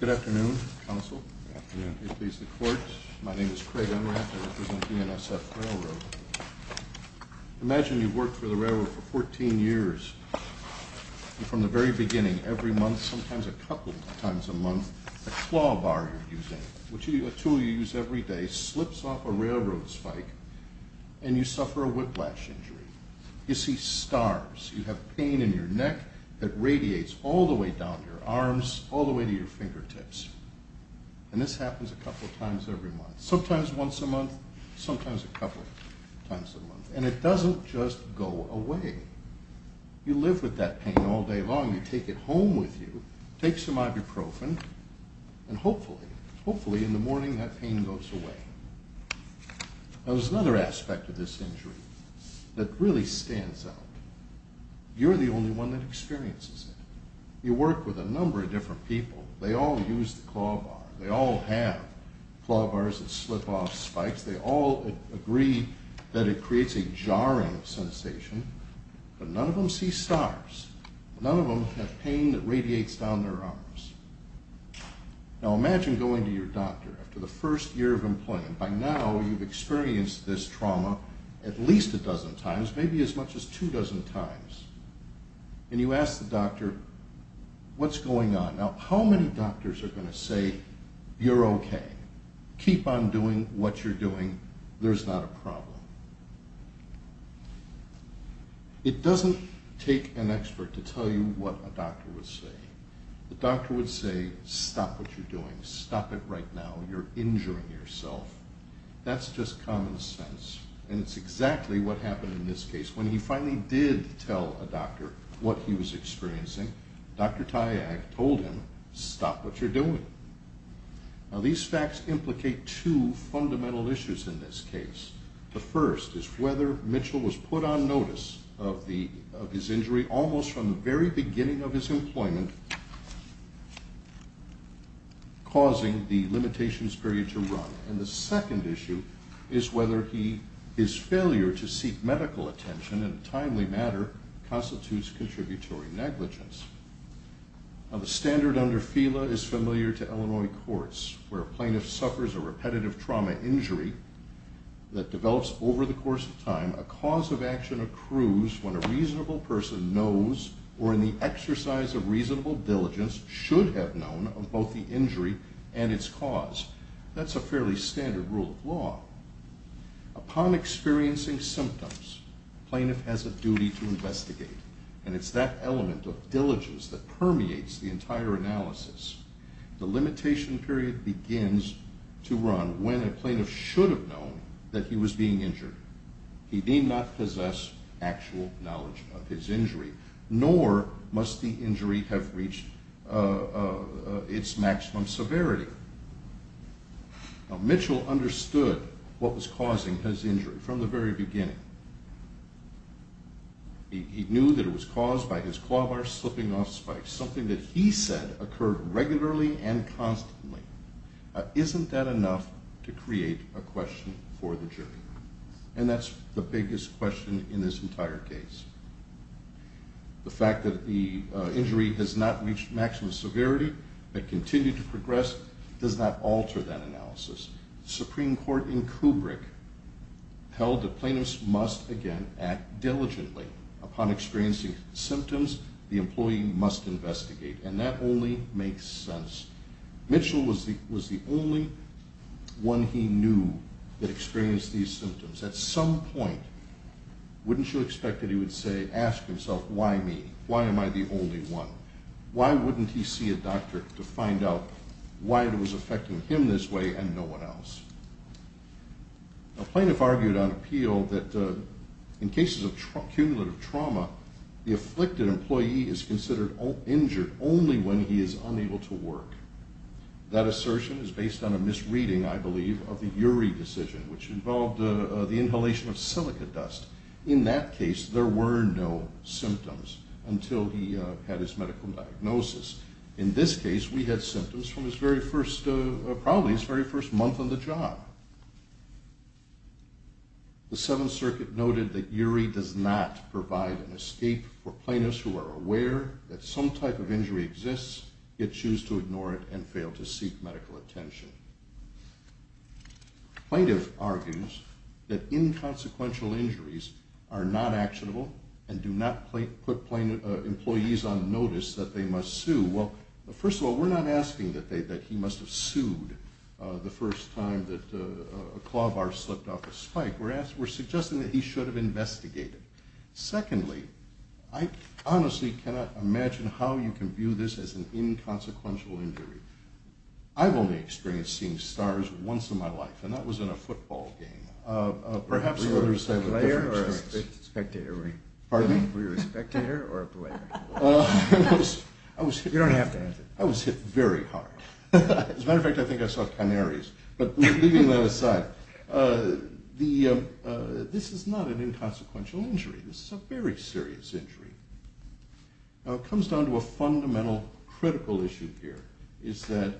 Good afternoon, counsel. Good afternoon. My name is Craig Unrath. I represent BNSF Railroad. Imagine you've worked for the railroad for 14 years. And from the very beginning, every month, sometimes a couple times a month, the claw bar you're using, which is a tool you use every day, slips off a railroad spike and you suffer a whiplash injury. You see stars. You have pain in your neck that radiates all the way down your arms, all the way to your fingertips. And this happens a couple times every month. Sometimes once a month, sometimes a couple times a month. And it doesn't just go away. You live with that pain all day long. You take it home with you, take some ibuprofen, and hopefully, hopefully in the morning that pain goes away. There's another aspect of this injury that really stands out. You're the only one that experiences it. You work with a number of different people. They all use the claw bar. They all have claw bars that slip off spikes. They all agree that it creates a jarring sensation. But none of them see stars. None of them have pain that radiates down their arms. Now imagine going to your doctor after the first year of employment. By now, you've experienced this trauma at least a dozen times, maybe as much as two dozen times. And you ask the doctor, what's going on? Now, how many doctors are going to say, you're okay. Keep on doing what you're doing. There's not a problem. It doesn't take an expert to tell you what a doctor would say. The doctor would say, stop what you're doing. Stop it right now. You're injuring yourself. That's just common sense. And it's exactly what happened in this case. When he finally did tell a doctor what he was experiencing, Dr. Tyag told him, stop what you're doing. Now these facts implicate two fundamental issues in this case. The first is whether Mitchell was put on notice of his injury almost from the very beginning of his employment, causing the limitations period to run. And the second issue is whether his failure to seek medical attention in a timely manner constitutes contributory negligence. Now the standard under FELA is familiar to Illinois courts where a plaintiff suffers a repetitive trauma injury that develops over the course of time. A cause of action accrues when a reasonable person knows or in the exercise of reasonable diligence should have known of both the injury and its cause. That's a fairly standard rule of law. Upon experiencing symptoms, a plaintiff has a duty to investigate. And it's that element of diligence that permeates the entire analysis. The limitation period begins to run when a plaintiff should have known that he was being injured. He need not possess actual knowledge of his injury, nor must the injury have reached its maximum severity. Now Mitchell understood what was causing his injury from the very beginning. He knew that it was caused by his claw bar slipping off spikes, something that he said occurred regularly and constantly. Isn't that enough to create a question for the jury? And that's the biggest question in this entire case. The fact that the injury has not reached maximum severity and continued to progress does not alter that analysis. The Supreme Court in Kubrick held that plaintiffs must, again, act diligently. Upon experiencing symptoms, the employee must investigate. And that only makes sense. Mitchell was the only one he knew that experienced these symptoms. At some point, wouldn't you expect that he would say, ask himself, why me? Why am I the only one? Why wouldn't he see a doctor to find out why it was affecting him this way and no one else? A plaintiff argued on appeal that in cases of cumulative trauma, the afflicted employee is considered injured only when he is unable to work. That assertion is based on a misreading, I believe, of the Urey decision, which involved the inhalation of silica dust. In that case, there were no symptoms until he had his medical diagnosis. In this case, we had symptoms from probably his very first month on the job. The Seventh Circuit noted that Urey does not provide an escape for plaintiffs who are aware that some type of injury exists, yet choose to ignore it and fail to seek medical attention. A plaintiff argues that inconsequential injuries are not actionable and do not put employees on notice that they must sue. Well, first of all, we're not asking that he must have sued the first time that a claw bar slipped off a spike. We're suggesting that he should have investigated. Secondly, I honestly cannot imagine how you can view this as an inconsequential injury. I've only experienced seeing stars once in my life, and that was in a football game. Were you a player or a spectator, Urey? Pardon me? Were you a spectator or a player? You don't have to answer. I was hit very hard. As a matter of fact, I think I saw canaries. But leaving that aside, this is not an inconsequential injury. This is a very serious injury. Now, it comes down to a fundamental, critical issue here, is that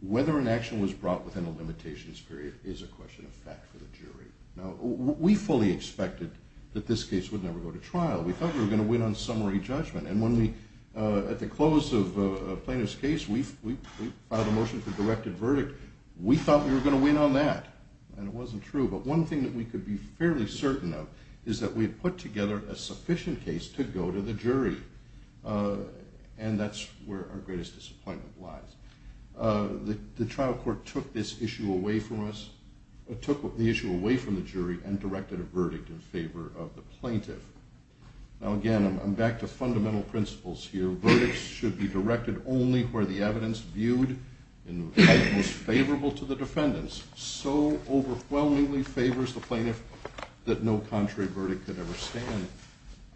whether an action was brought within a limitations period is a question of fact for the jury. Now, we fully expected that this case would never go to trial. We thought we were going to win on summary judgment. And at the close of a plaintiff's case, we filed a motion for directed verdict. We thought we were going to win on that, and it wasn't true. But one thing that we could be fairly certain of is that we had put together a sufficient case to go to the jury, and that's where our greatest disappointment lies. The trial court took this issue away from us, took the issue away from the jury, and directed a verdict in favor of the plaintiff. Now, again, I'm back to fundamental principles here. Verdicts should be directed only where the evidence viewed in the light most favorable to the defendants so overwhelmingly favors the plaintiff that no contrary verdict could ever stand.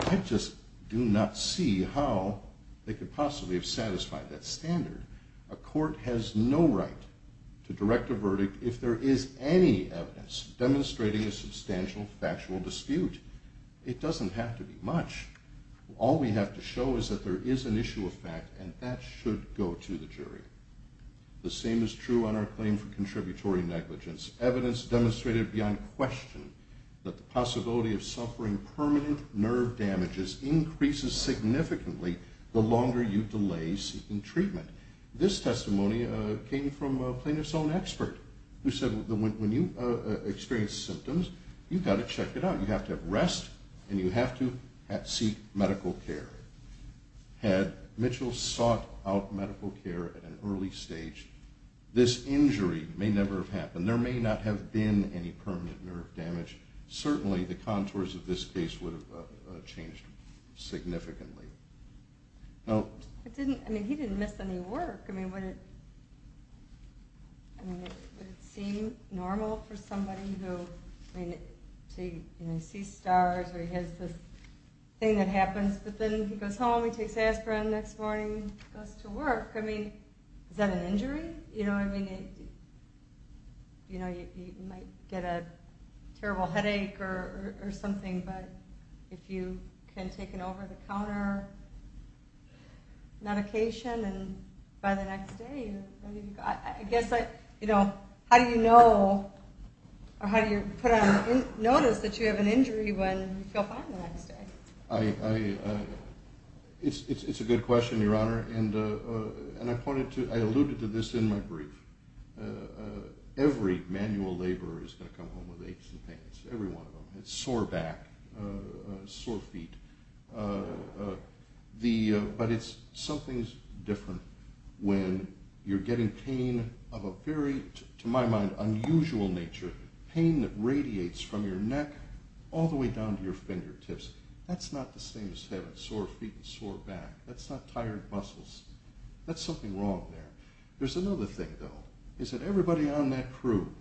I just do not see how they could possibly have satisfied that standard. A court has no right to direct a verdict if there is any evidence demonstrating a substantial factual dispute. It doesn't have to be much. All we have to show is that there is an issue of fact, and that should go to the jury. The same is true on our claim for contributory negligence. Evidence demonstrated beyond question that the possibility of suffering permanent nerve damages increases significantly the longer you delay seeking treatment. This testimony came from a plaintiff's own expert, who said when you experience symptoms, you've got to check it out. You have to have rest, and you have to seek medical care. Had Mitchell sought out medical care at an early stage, this injury may never have happened. There may not have been any permanent nerve damage. Certainly, the contours of this case would have changed significantly. I mean, he didn't miss any work. I mean, would it seem normal for somebody to see stars, or he has this thing that happens, but then he goes home, he takes aspirin the next morning, goes to work. I mean, is that an injury? You know, I mean, you might get a terrible headache or something, but if you can take an over-the-counter medication, and by the next day, you're ready to go. I guess, you know, how do you know, or how do you put on notice that you have an injury when you feel fine the next day? It's a good question, Your Honor, and I alluded to this in my brief. Every manual laborer is going to come home with aches and pains, every one of them, a sore back, sore feet. But something's different when you're getting pain of a very, to my mind, unusual nature, pain that radiates from your neck all the way down to your fingertips. That's not the same as having sore feet and sore back. That's not tired muscles. That's something wrong there. There's another thing, though, is that everybody on that crew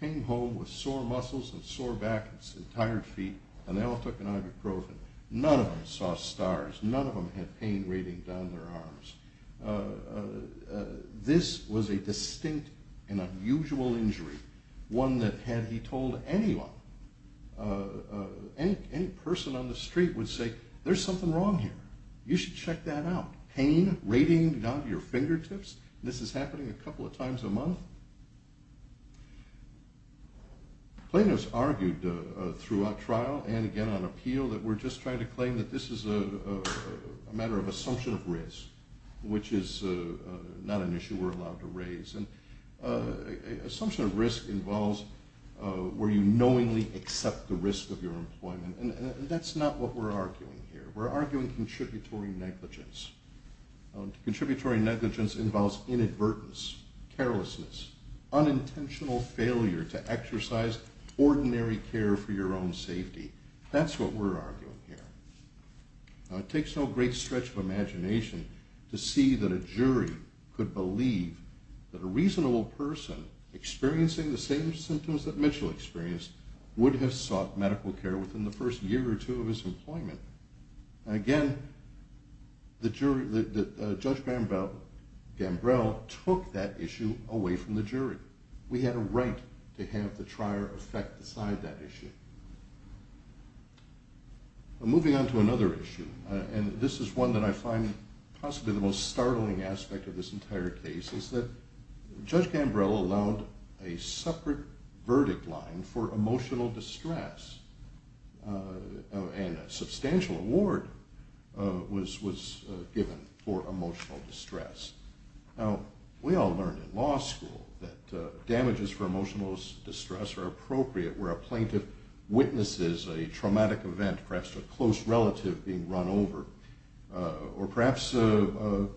came home with sore muscles and sore back and tired feet, and they all took an ibuprofen. None of them saw stars. None of them had pain reading down their arms. This was a distinct and unusual injury, one that, had he told anyone, any person on the street would say, there's something wrong here. You should check that out. Pain rating down to your fingertips? This is happening a couple of times a month? Plaintiffs argued throughout trial and again on appeal that we're just trying to claim that this is a matter of assumption of risk, which is not an issue we're allowed to raise. Assumption of risk involves where you knowingly accept the risk of your employment, and that's not what we're arguing here. We're arguing contributory negligence. Contributory negligence involves inadvertence, carelessness, unintentional failure to exercise ordinary care for your own safety. That's what we're arguing here. Now, it takes no great stretch of imagination to see that a jury could believe that a reasonable person experiencing the same symptoms that Mitchell experienced would have sought medical care within the first year or two of his employment. Again, Judge Gambrell took that issue away from the jury. We had a right to have the trier affect the side of that issue. Moving on to another issue, and this is one that I find possibly the most startling aspect of this entire case, is that Judge Gambrell allowed a separate verdict line for emotional distress, and a substantial award was given for emotional distress. Now, we all learned in law school that damages for emotional distress are appropriate where a plaintiff witnesses a traumatic event, perhaps a close relative being run over, or perhaps the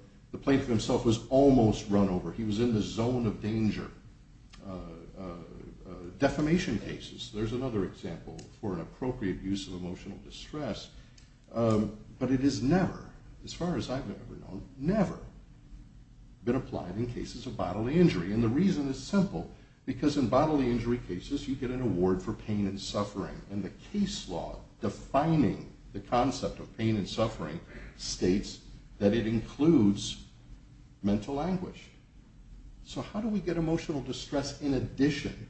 plaintiff himself was almost run over. He was in the zone of danger. Defamation cases, there's another example for an appropriate use of emotional distress, but it has never, as far as I've ever known, never been applied in cases of bodily injury. And the reason is simple, because in bodily injury cases, you get an award for pain and suffering, and the case law defining the concept of pain and suffering states that it includes mental anguish. So how do we get emotional distress in addition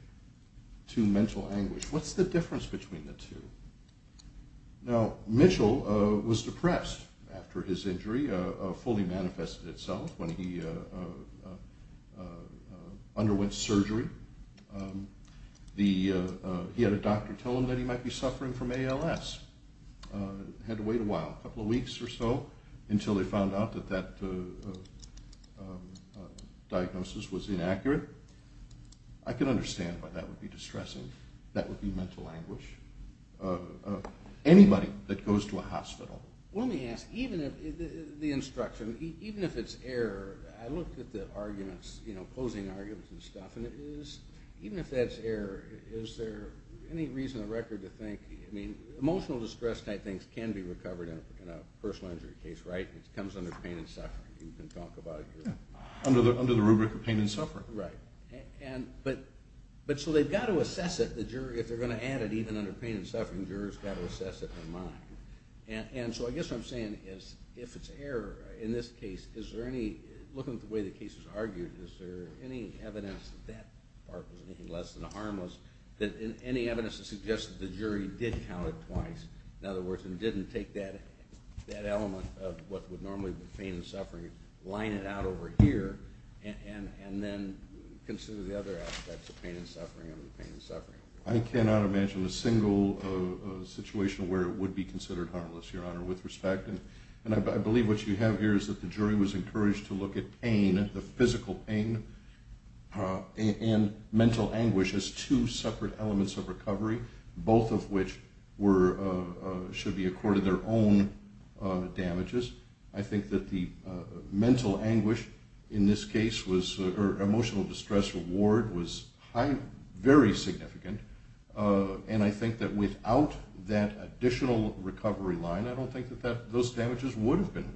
to mental anguish? What's the difference between the two? Now, Mitchell was depressed after his injury fully manifested itself when he underwent surgery. He had a doctor tell him that he might be suffering from ALS. He had to wait a while, a couple of weeks or so, until they found out that that diagnosis was inaccurate. I can understand why that would be distressing. That would be mental anguish of anybody that goes to a hospital. Let me ask, even if the instruction, even if it's error, I looked at the arguments, you know, opposing arguments and stuff, and it is, even if that's error, is there any reason on the record to think, I mean, emotional distress type things can be recovered in a personal injury case, right? It comes under pain and suffering. You can talk about it here. Under the rubric of pain and suffering. Right. But so they've got to assess it, the jury, if they're going to add it even under pain and suffering, the jury's got to assess it in mind. And so I guess what I'm saying is, if it's error in this case, is there any, looking at the way the case is argued, is there any evidence that that part was anything less than harmless? That any evidence to suggest that the jury did count it twice, in other words, and didn't take that element of what would normally be pain and suffering, line it out over here, and then consider the other aspects of pain and suffering under pain and suffering. I cannot imagine a single situation where it would be considered harmless, Your Honor, with respect. And I believe what you have here is that the jury was encouraged to look at pain, the physical pain, and mental anguish as two separate elements of recovery, both of which should be accorded their own damages. I think that the mental anguish in this case, or emotional distress award, was very significant. And I think that without that additional recovery line, I don't think that those damages would have been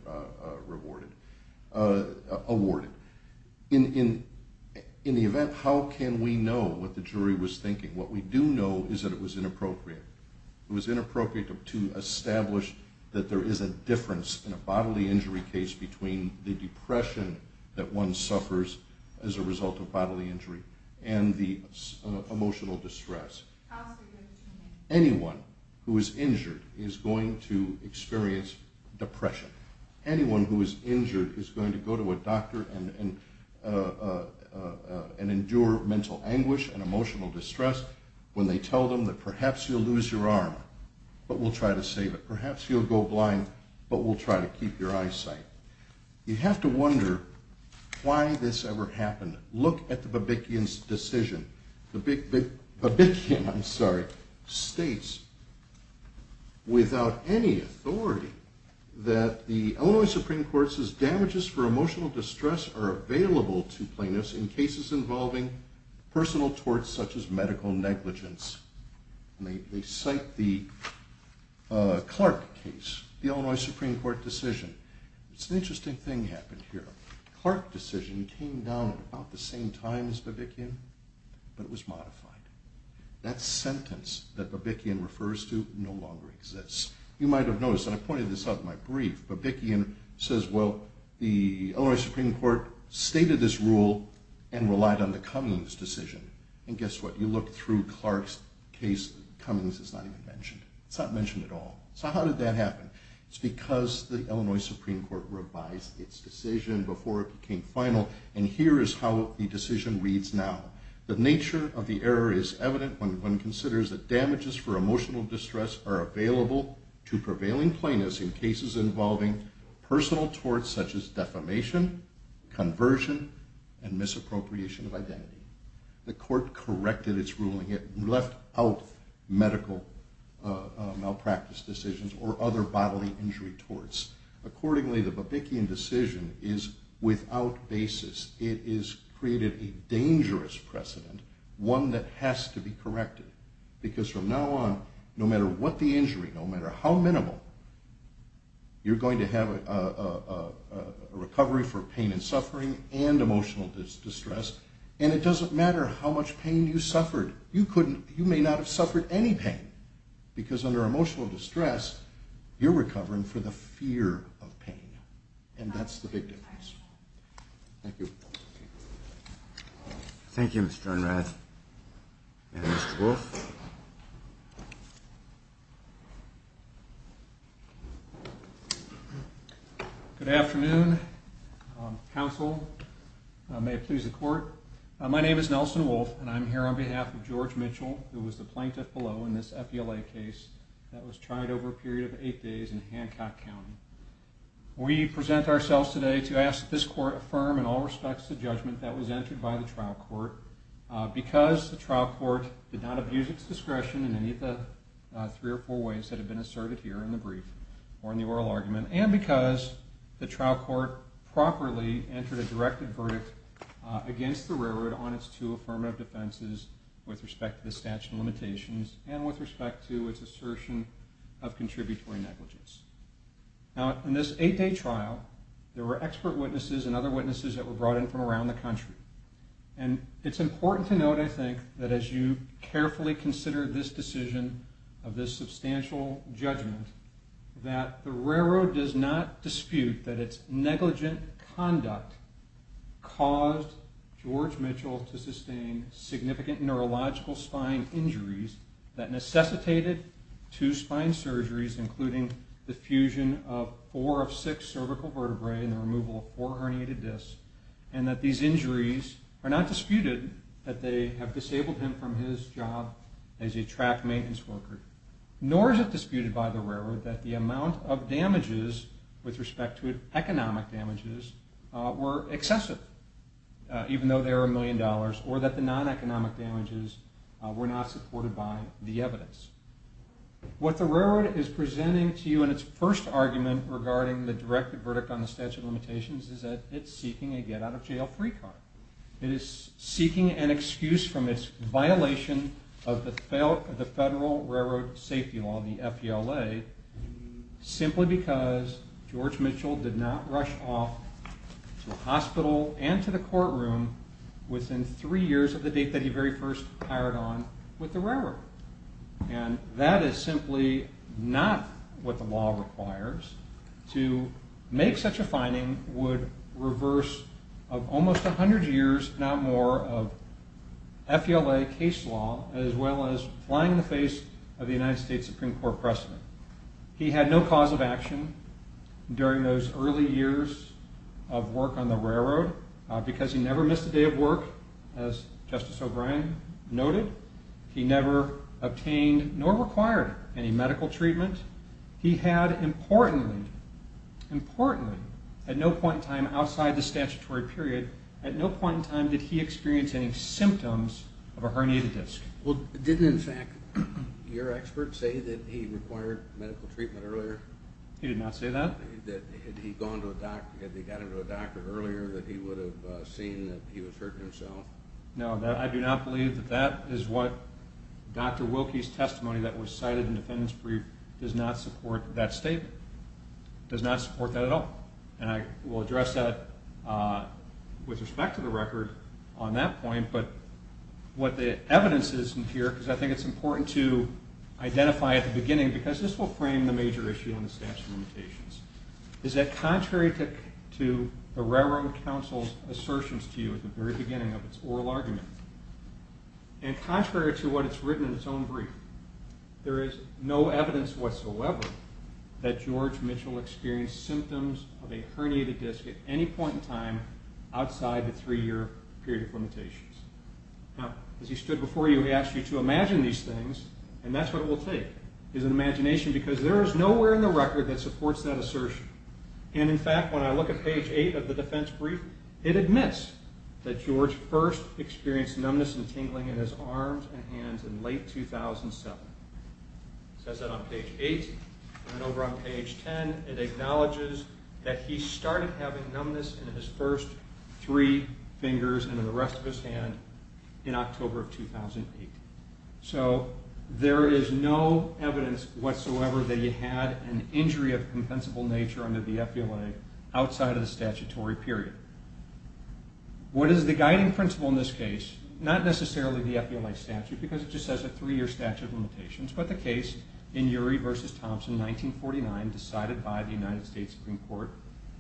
awarded. In the event, how can we know what the jury was thinking? What we do know is that it was inappropriate. It was inappropriate to establish that there is a difference in a bodily injury case between the depression that one suffers as a result of bodily injury and the emotional distress. Anyone who is injured is going to experience depression. Anyone who is injured is going to go to a doctor and endure mental anguish and emotional distress when they tell them that perhaps you'll lose your arm, but we'll try to save it. Perhaps you'll go blind, but we'll try to keep your eyesight. You have to wonder why this ever happened. Look at the Babikian's decision. The Babikian states without any authority that the Illinois Supreme Court says damages for emotional distress are available to plaintiffs in cases involving personal torts such as medical negligence. They cite the Clark case, the Illinois Supreme Court decision. It's an interesting thing happened here. The Clark decision came down at about the same time as Babikian, but it was modified. That sentence that Babikian refers to no longer exists. You might have noticed, and I pointed this out in my brief, Babikian says, well, the Illinois Supreme Court stated this rule and relied on the Cummings decision. And guess what? You look through Clark's case, Cummings is not even mentioned. It's not mentioned at all. So how did that happen? It's because the Illinois Supreme Court revised its decision before it became final, and here is how the decision reads now. The nature of the error is evident when one considers that damages for emotional distress are available to prevailing plaintiffs in cases involving personal torts such as defamation, conversion, and misappropriation of identity. The court corrected its ruling. It left out medical malpractice decisions or other bodily injury torts. Accordingly, the Babikian decision is without basis. It has created a dangerous precedent, one that has to be corrected, because from now on, no matter what the injury, no matter how minimal, you're going to have a recovery for pain and suffering and emotional distress, and it doesn't matter how much pain you suffered. You may not have suffered any pain, because under emotional distress, you're recovering for the fear of pain, and that's the big difference. Thank you. Thank you, Mr. Unrath. Thank you, Mr. Wolff. Good afternoon. Counsel, may it please the court. My name is Nelson Wolff, and I'm here on behalf of George Mitchell, who was the plaintiff below in this FELA case that was tried over a period of eight days in Hancock County. We present ourselves today to ask that this court affirm in all respects the judgment that was entered by the trial court, because the trial court did not abuse its discretion in any of the three or four ways that have been asserted here in the brief or in the oral argument, and because the trial court properly entered a directed verdict against the railroad on its two affirmative defenses with respect to the statute of limitations and with respect to its assertion of contributory negligence. Now, in this eight-day trial, there were expert witnesses and other witnesses that were brought in from around the country, and it's important to note, I think, that as you carefully consider this decision of this substantial judgment, that the railroad does not dispute that its negligent conduct caused George Mitchell to sustain significant neurological spine injuries that necessitated two spine surgeries, including the fusion of four of six cervical vertebrae and the removal of four herniated discs, and that these injuries are not disputed that they have disabled him from his job as a track maintenance worker, nor is it disputed by the railroad that the amount of damages with respect to economic damages were excessive, even though they were a million dollars, or that the non-economic damages were not supported by the evidence. What the railroad is presenting to you in its first argument regarding the directed verdict on the statute of limitations is that it's seeking a get-out-of-jail-free card. It is seeking an excuse from its violation of the Federal Railroad Safety Law, the FELA, simply because George Mitchell did not rush off to the hospital and to the courtroom within three years of the date that he very first hired on with the railroad. And that is simply not what the law requires. To make such a finding would reverse almost 100 years, if not more, of FELA case law, as well as flying the face of the United States Supreme Court precedent. He had no cause of action during those early years of work on the railroad because he never missed a day of work, as Justice O'Brien noted. He never obtained nor required any medical treatment. He had, importantly, at no point in time outside the statutory period, at no point in time did he experience any symptoms of a herniated disc. Well, didn't, in fact, your expert say that he required medical treatment earlier? He did not say that. Had he gone to a doctor, had they got him to a doctor earlier, that he would have seen that he was hurting himself? No, I do not believe that that is what Dr. Wilkie's testimony that was cited in the defendant's brief does not support that statement, does not support that at all. And I will address that with respect to the record on that point, but what the evidence is in here, because I think it's important to identify at the beginning, because this will frame the major issue on the statute of limitations, is that contrary to the Railroad Council's assertions to you at the very beginning of its oral argument, and contrary to what it's written in its own brief, there is no evidence whatsoever that George Mitchell experienced symptoms of a herniated disc at any point in time outside the three-year period of limitations. Now, as he stood before you, he asked you to imagine these things, and that's what it will take. His imagination, because there is nowhere in the record that supports that assertion. And in fact, when I look at page 8 of the defense brief, it admits that George first experienced numbness and tingling in his arms and hands in late 2007. It says that on page 8, and then over on page 10, it acknowledges that he started having numbness in his first three fingers and in the rest of his hand in October of 2008. So there is no evidence whatsoever that he had an injury of a compensable nature under the FBLA outside of the statutory period. What is the guiding principle in this case? Not necessarily the FBLA statute, because it just says a three-year statute of limitations, but the case in Urey v. Thompson, 1949, decided by the United States Supreme Court.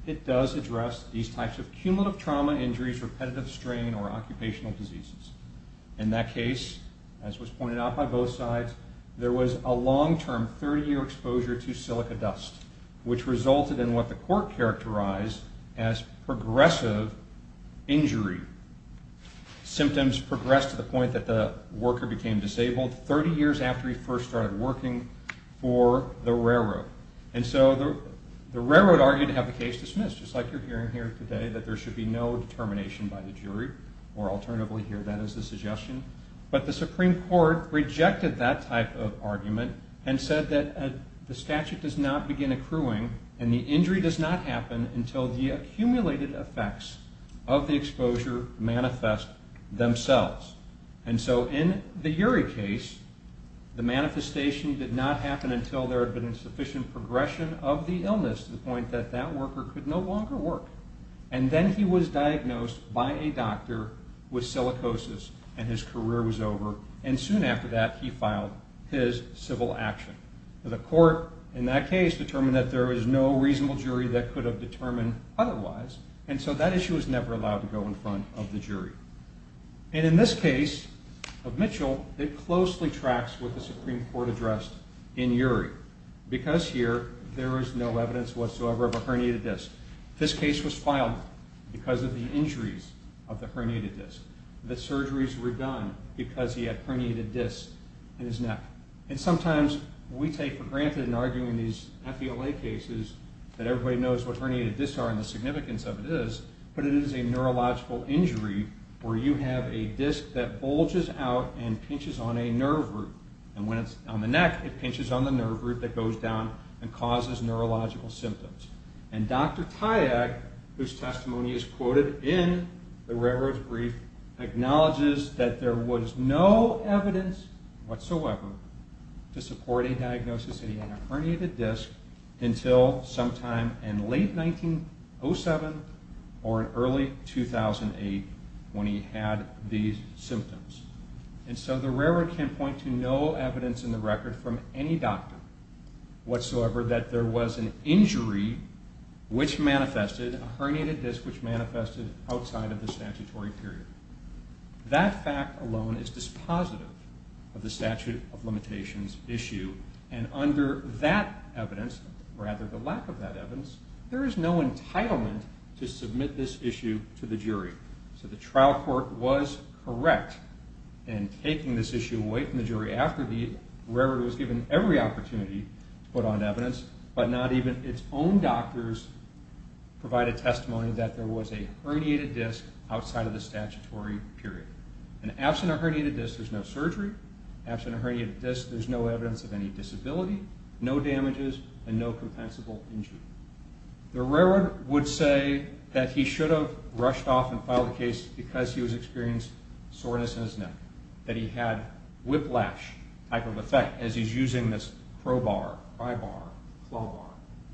It does address these types of cumulative trauma injuries, repetitive strain, or occupational diseases. In that case, as was pointed out by both sides, there was a long-term 30-year exposure to silica dust, which resulted in what the court characterized as progressive injury. Symptoms progressed to the point that the worker became disabled 30 years after he first started working for the railroad. And so the railroad argued to have the case dismissed, just like you're hearing here today, that there should be no determination by the jury, or alternatively here, that is the suggestion. But the Supreme Court rejected that type of argument and said that the statute does not begin accruing and the injury does not happen until the accumulated effects of the exposure manifest themselves. And so in the Urey case, the manifestation did not happen until there had been sufficient progression of the illness to the point that that worker could no longer work. And then he was diagnosed by a doctor with silicosis and his career was over, and soon after that he filed his civil action. The court in that case determined that there was no reasonable jury that could have determined otherwise, and so that issue was never allowed to go in front of the jury. And in this case of Mitchell, it closely tracks with the Supreme Court address in Urey, because here there is no evidence whatsoever of a herniated disc. This case was filed because of the injuries of the herniated disc. The surgeries were done because he had herniated discs in his neck. And sometimes we take for granted in arguing these FBLA cases that everybody knows what herniated discs are and the significance of it is, but it is a neurological injury where you have a disc that bulges out and pinches on a nerve root. And when it's on the neck, it pinches on the nerve root that goes down and causes neurological symptoms. And Dr. Tyag, whose testimony is quoted in the Railroad Brief, acknowledges that there was no evidence whatsoever to support a diagnosis that he had a herniated disc until sometime in late 1907 or early 2008 when he had these symptoms. And so the Railroad can point to no evidence in the record from any doctor whatsoever that there was an injury which manifested, a herniated disc which manifested outside of the statutory period. That fact alone is dispositive of the statute of limitations issue. And under that evidence, rather the lack of that evidence, there is no entitlement to submit this issue to the jury. So the trial court was correct in taking this issue away from the jury after the Railroad was given every opportunity to put on evidence, but not even its own doctors provided testimony that there was a herniated disc outside of the statutory period. And absent a herniated disc, there's no surgery. Absent a herniated disc, there's no evidence of any disability, no damages, and no compensable injury. The Railroad would say that he should have rushed off and filed the case because he was experiencing soreness in his neck, that he had whiplash type of effect as he's using this crowbar, pry bar, claw bar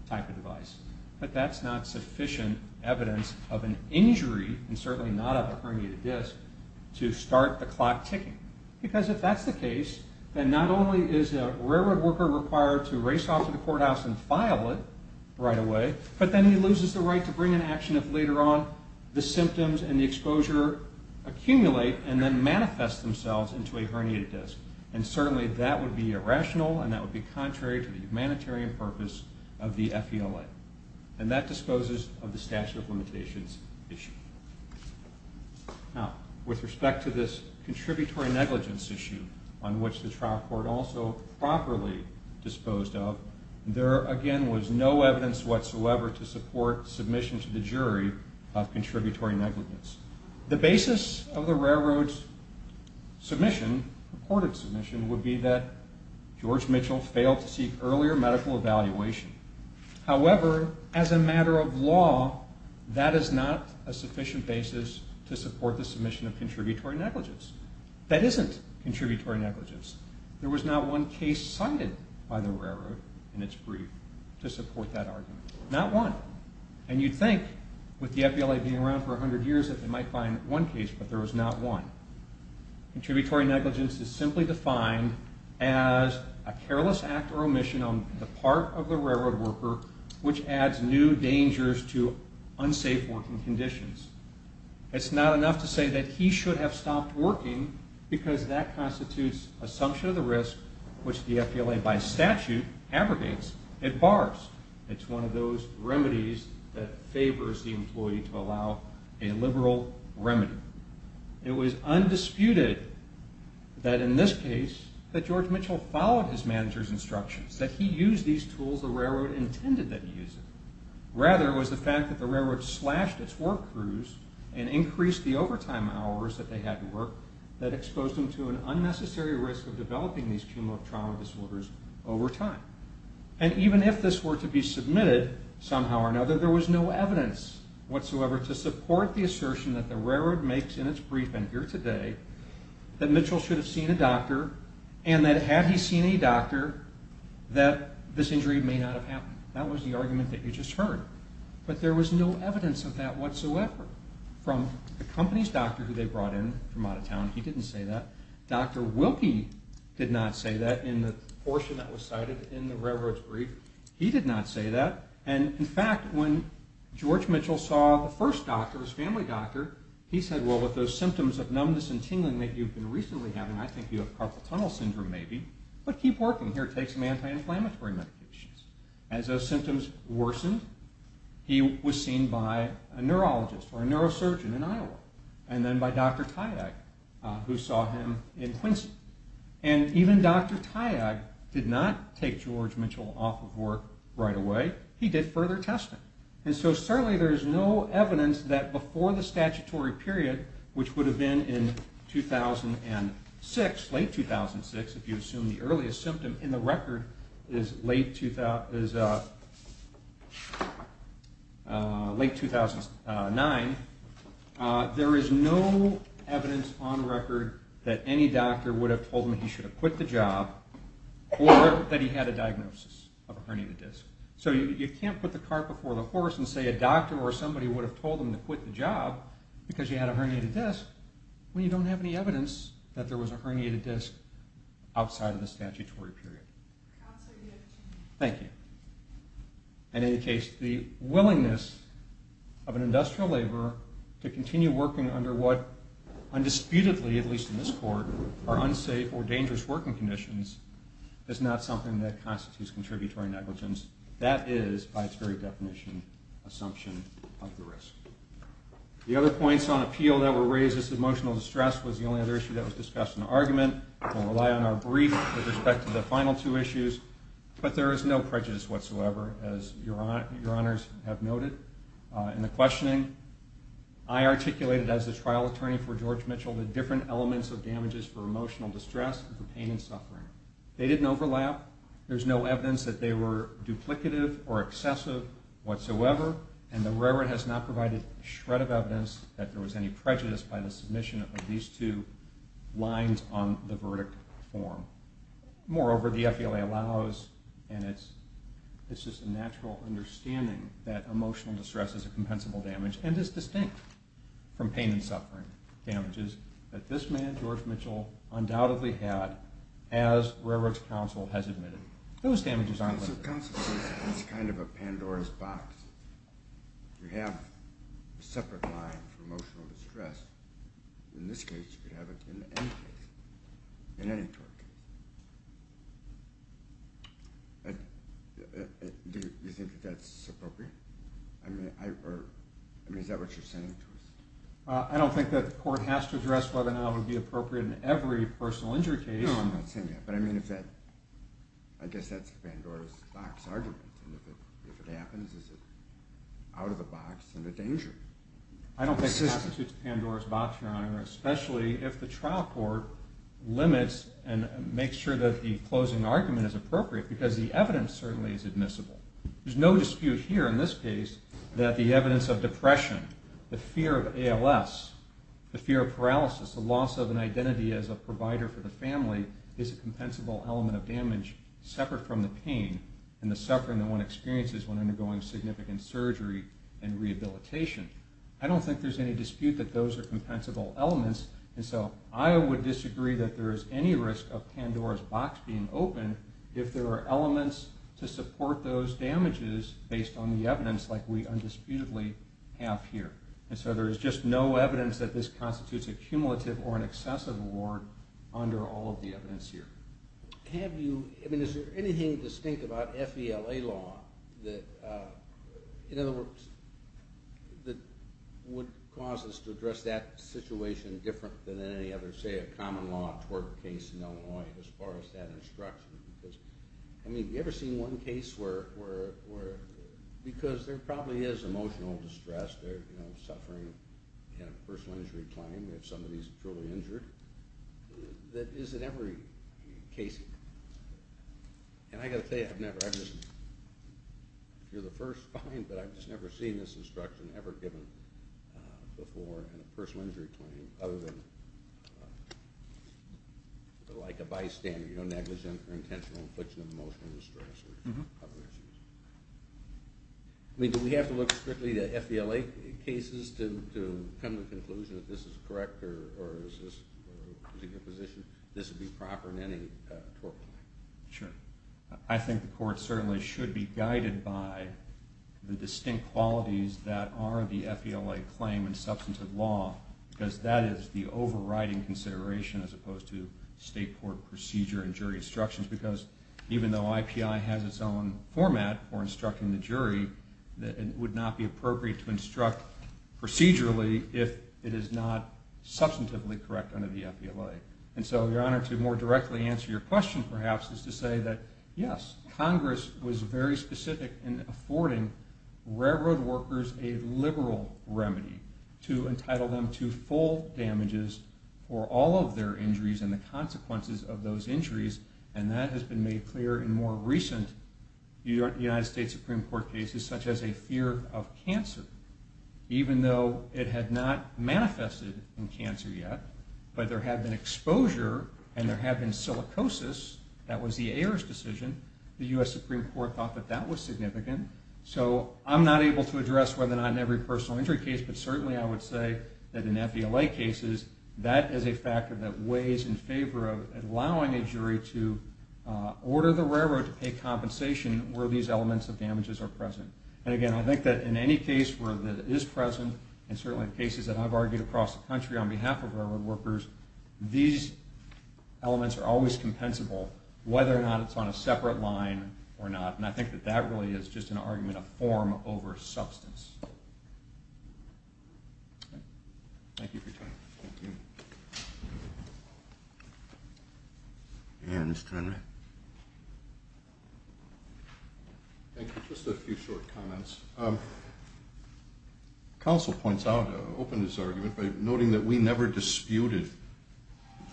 type of device. But that's not sufficient evidence of an injury, and certainly not of a herniated disc, to start the clock ticking. Because if that's the case, then not only is a Railroad worker required to race off to the courthouse and file it right away, but then he loses the right to bring an action if later on the symptoms and the exposure accumulate and then manifest themselves into a herniated disc. And certainly that would be irrational, and that would be contrary to the humanitarian purpose of the FELA. And that disposes of the statute of limitations issue. Now, with respect to this contributory negligence issue, on which the trial court also properly disposed of, there again was no evidence whatsoever to support submission to the jury of contributory negligence. The basis of the Railroad's submission, reported submission, would be that George Mitchell failed to seek earlier medical evaluation. However, as a matter of law, that is not a sufficient basis to support the submission of contributory negligence. That isn't contributory negligence. There was not one case cited by the Railroad in its brief to support that argument. Not one. And you'd think, with the FELA being around for 100 years, that they might find one case, but there was not one. Contributory negligence is simply defined as a careless act or omission on the part of the Railroad worker which adds new dangers to unsafe working conditions. It's not enough to say that he should have stopped working, because that constitutes a sanction of the risk which the FELA, by statute, abrogates. It bars. It's one of those remedies that favors the employee to allow a liberal remedy. It was undisputed that, in this case, that George Mitchell followed his manager's instructions, that he used these tools the Railroad intended that he used. Rather, it was the fact that the Railroad slashed its work crews and increased the overtime hours that they had to work that exposed them to an unnecessary risk of developing these cumulative trauma disorders over time. And even if this were to be submitted, somehow or another, there was no evidence whatsoever to support the assertion that the Railroad makes in its brief, and here today, that Mitchell should have seen a doctor, and that had he seen a doctor, that this injury may not have happened. That was the argument that you just heard. But there was no evidence of that whatsoever. From the company's doctor who they brought in from out of town, he didn't say that. Dr. Wilkie did not say that in the portion that was cited in the Railroad's brief. He did not say that. And, in fact, when George Mitchell saw the first doctor, his family doctor, he said, well, with those symptoms of numbness and tingling that you've been recently having, I think you have carpal tunnel syndrome maybe, but keep working. Here, take some anti-inflammatory medications. As those symptoms worsened, he was seen by a neurologist or a neurosurgeon in Iowa, and then by Dr. Tyag, who saw him in Quincy. And even Dr. Tyag did not take George Mitchell off of work right away. He did further testing. And so certainly there is no evidence that before the statutory period, which would have been in 2006, late 2006, if you assume the earliest symptom in the record is late 2009, there is no evidence on record that any doctor would have told him he should have quit the job or that he had a diagnosis of a herniated disc. So you can't put the cart before the horse and say a doctor or somebody would have told him to quit the job because he had a herniated disc when you don't have any evidence that there was a herniated disc outside of the statutory period. Thank you. And in any case, the willingness of an industrial laborer to continue working under what undisputedly, at least in this court, are unsafe or dangerous working conditions, is not something that constitutes contributory negligence. That is, by its very definition, assumption of the risk. The other points on appeal that were raised is emotional distress was the only other issue that was discussed in the argument. I'm going to rely on our brief with respect to the final two issues. But there is no prejudice whatsoever, as your honors have noted. In the questioning, I articulated as the trial attorney for George Mitchell the different elements of damages for emotional distress and for pain and suffering. They didn't overlap. There's no evidence that they were duplicative or excessive whatsoever. And the railroad has not provided a shred of evidence that there was any prejudice by the submission of these two lines on the verdict form. Moreover, the FELA allows, and it's just a natural understanding, that emotional distress is a compensable damage and is distinct from pain and suffering damages that this man, George Mitchell, undoubtedly had as railroad counsel has admitted. Those damages aren't limited. Counsel, it's kind of a Pandora's box. You have a separate line for emotional distress. In this case, you could have it in any case, in any court case. Do you think that that's appropriate? I mean, is that what you're saying to us? I don't think that the court has to address whether or not it would be appropriate in every personal injury case. No, I'm not saying that. But I mean, I guess that's a Pandora's box argument. And if it happens, is it out of the box and a danger? I don't think it constitutes a Pandora's box, your honor, especially if the trial court limits and makes sure that the closing argument is appropriate because the evidence certainly is admissible. There's no dispute here in this case that the evidence of depression, the fear of ALS, the fear of paralysis, the loss of an identity as a provider for the family is a compensable element of damage separate from the pain and the suffering that one experiences when undergoing significant surgery and rehabilitation. I don't think there's any dispute that those are compensable elements. And so I would disagree that there is any risk of Pandora's box being open if there are elements to support those damages based on the evidence like we undisputedly have here. And so there is just no evidence that this constitutes a cumulative or an excessive award under all of the evidence here. Have you, I mean, is there anything distinct about FELA law that, in other words, that would cause us to address that situation different than any other, say, common law tort case in Illinois as far as that instruction? Because, I mean, have you ever seen one case where, because there probably is emotional distress, you know, suffering in a personal injury claim if somebody's truly injured, that is in every case. And I've got to say, I've never, I just, if you're the first, fine, but I've just never seen this instruction ever given before in a personal injury claim other than like a bystander, you know, negligent or intentional infliction of emotional distress or other issues. I mean, do we have to look strictly at FELA cases to come to the conclusion that this is correct or is this a good position? This would be proper in any tort claim. Sure. I think the court certainly should be guided by the distinct qualities that are the FELA claim and substantive law because that is the overriding consideration as opposed to state court procedure and jury instructions because even though IPI has its own format for instructing the jury, it would not be appropriate to instruct procedurally if it is not substantively correct under the FELA. And so your Honor, to more directly answer your question, perhaps, is to say that, yes, Congress was very specific in affording railroad workers a liberal remedy to entitle them to full damages for all of their injuries and the consequences of those injuries, and that has been made clear in more recent United States Supreme Court cases such as a fear of cancer, even though it had not manifested in cancer yet, but there had been exposure and there had been silicosis. That was the heirs' decision. The U.S. Supreme Court thought that that was significant. So I'm not able to address whether or not in every personal injury case, but certainly I would say that in FELA cases, that is a factor that weighs in favor of allowing a jury to order the railroad to pay compensation where these elements of damages are present. And, again, I think that in any case where that is present, and certainly in cases that I've argued across the country on behalf of railroad workers, these elements are always compensable whether or not it's on a separate line or not. And I think that that really is just an argument of form over substance. Thank you for your time. Thank you. And Mr. Henry. Thank you. Just a few short comments. Counsel points out, opened his argument by noting that we never disputed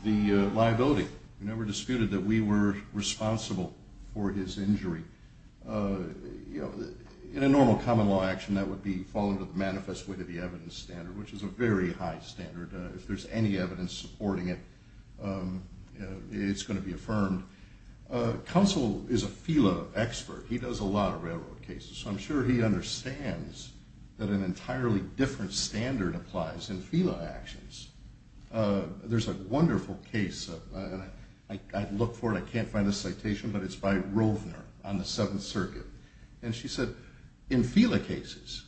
the liability. We never disputed that we were responsible for his injury. In a normal common law action, that would fall into the manifest way to the evidence standard, which is a very high standard. If there's any evidence supporting it, it's going to be affirmed. Counsel is a FELA expert. He does a lot of railroad cases. So I'm sure he understands that an entirely different standard applies in FELA actions. There's a wonderful case. I looked for it. I can't find the citation, but it's by Rovner on the Seventh Circuit. And she said, in FELA cases,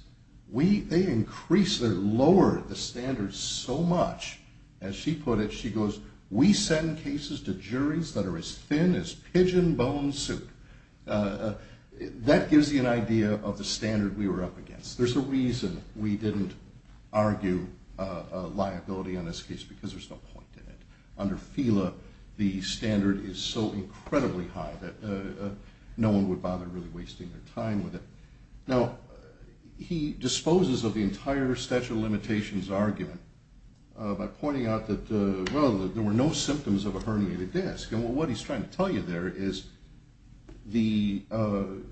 they increase or lower the standards so much, as she put it, she goes, we send cases to juries that are as thin as pigeon bone soup. That gives you an idea of the standard we were up against. There's a reason we didn't argue liability on this case, because there's no point in it. Under FELA, the standard is so incredibly high that no one would bother really wasting their time with it. Now, he disposes of the entire statute of limitations argument by pointing out that, well, there were no symptoms of a herniated disc. And what he's trying to tell you there is the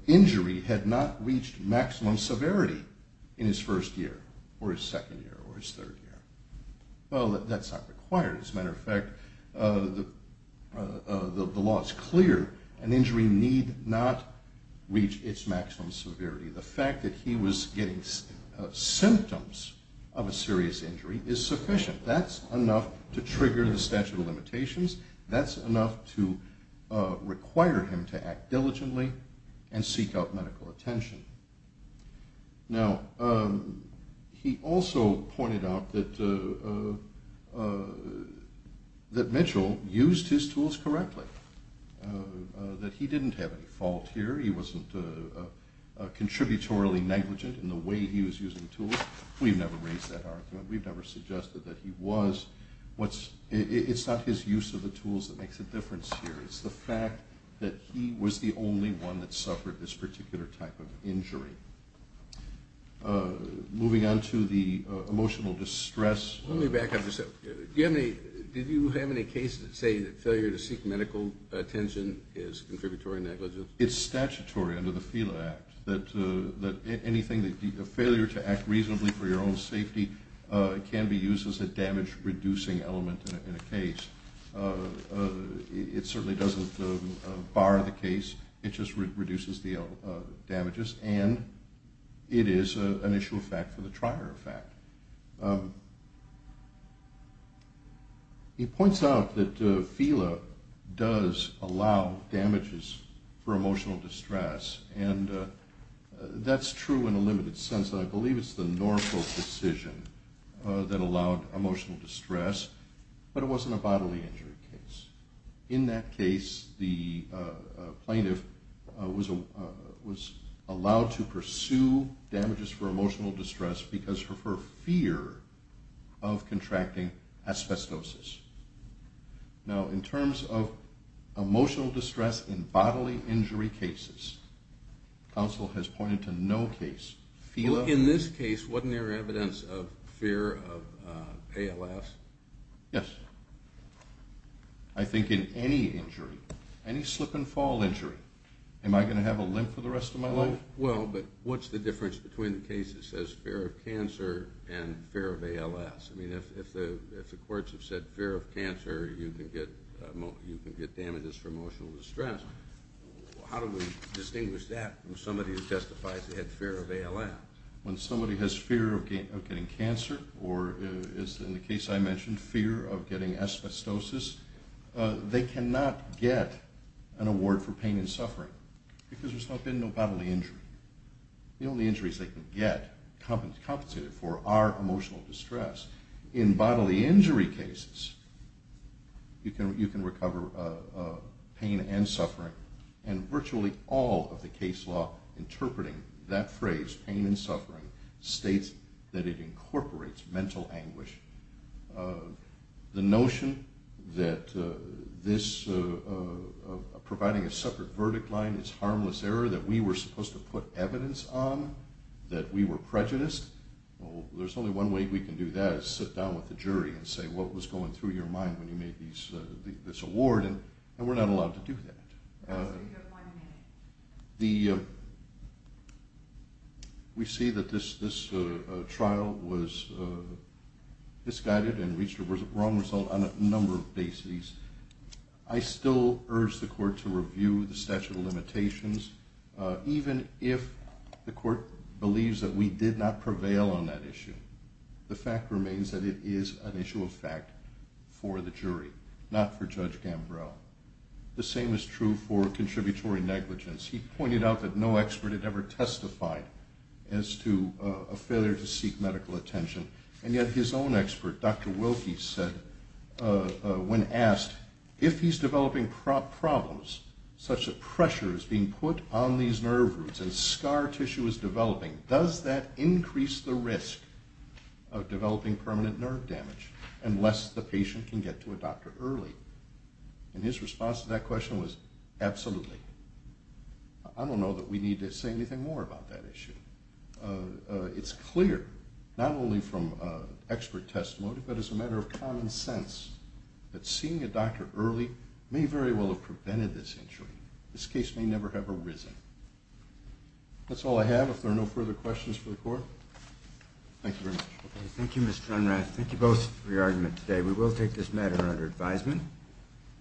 injury had not reached maximum severity in his first year or his second year or his third year. Well, that's not required. As a matter of fact, the law is clear. An injury need not reach its maximum severity. The fact that he was getting symptoms of a serious injury is sufficient. That's enough to trigger the statute of limitations. That's enough to require him to act diligently and seek out medical attention. Now, he also pointed out that Mitchell used his tools correctly, that he didn't have any fault here. He wasn't contributorily negligent in the way he was using tools. We've never raised that argument. We've never suggested that he was. It's not his use of the tools that makes a difference here. It's the fact that he was the only one that suffered this particular type of injury. Moving on to the emotional distress. Let me back up just a second. Did you have any cases that say that failure to seek medical attention is contributory negligence? It's statutory under the FELA Act that anything, a failure to act reasonably for your own safety, can be used as a damage-reducing element in a case. It certainly doesn't bar the case. It just reduces the damages, and it is an issue of fact for the trier of fact. He points out that FELA does allow damages for emotional distress, and that's true in a limited sense. I believe it's the Norfolk decision that allowed emotional distress, but it wasn't a bodily injury case. In that case, the plaintiff was allowed to pursue damages for emotional distress because of her fear of contracting asbestosis. Now, in terms of emotional distress in bodily injury cases, counsel has pointed to no case. In this case, wasn't there evidence of fear of ALS? Yes. I think in any injury, any slip-and-fall injury, am I going to have a limp for the rest of my life? Well, but what's the difference between the case that says fear of cancer and fear of ALS? I mean, if the courts have said fear of cancer, you can get damages for emotional distress, how do we distinguish that from somebody who testifies they had fear of ALS? When somebody has fear of getting cancer or, as in the case I mentioned, fear of getting asbestosis, they cannot get an award for pain and suffering because there's not been no bodily injury. The only injuries they can get compensated for are emotional distress. In bodily injury cases, you can recover pain and suffering, and virtually all of the case law interpreting that phrase, pain and suffering, states that it incorporates mental anguish. The notion that providing a separate verdict line is harmless error, that we were supposed to put evidence on, that we were prejudiced, there's only one way we can do that is sit down with the jury and say, what was going through your mind when you made this award, and we're not allowed to do that. You have one minute. We see that this trial was misguided and reached a wrong result on a number of bases. I still urge the court to review the statute of limitations, even if the court believes that we did not prevail on that issue. The fact remains that it is an issue of fact for the jury, not for Judge Gambrel. The same is true for contributory negligence. He pointed out that no expert had ever testified as to a failure to seek medical attention, and yet his own expert, Dr. Wilkie, said when asked, if he's developing problems such that pressure is being put on these nerve roots and scar tissue is developing, does that increase the risk of developing permanent nerve damage unless the patient can get to a doctor early? And his response to that question was, absolutely. I don't know that we need to say anything more about that issue. It's clear, not only from expert testimony, but as a matter of common sense, that seeing a doctor early may very well have prevented this injury. This case may never have arisen. That's all I have. If there are no further questions for the court, thank you very much. Thank you, Mr. Unrath. Thank you both for your argument today. We will take this matter under advisement,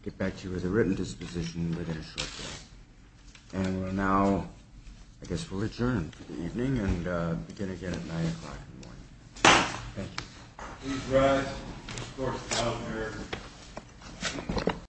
get back to you with a written disposition within a short time. And we will now, I guess we'll adjourn for the evening and begin again at 9 o'clock in the morning. Thank you. Please rise.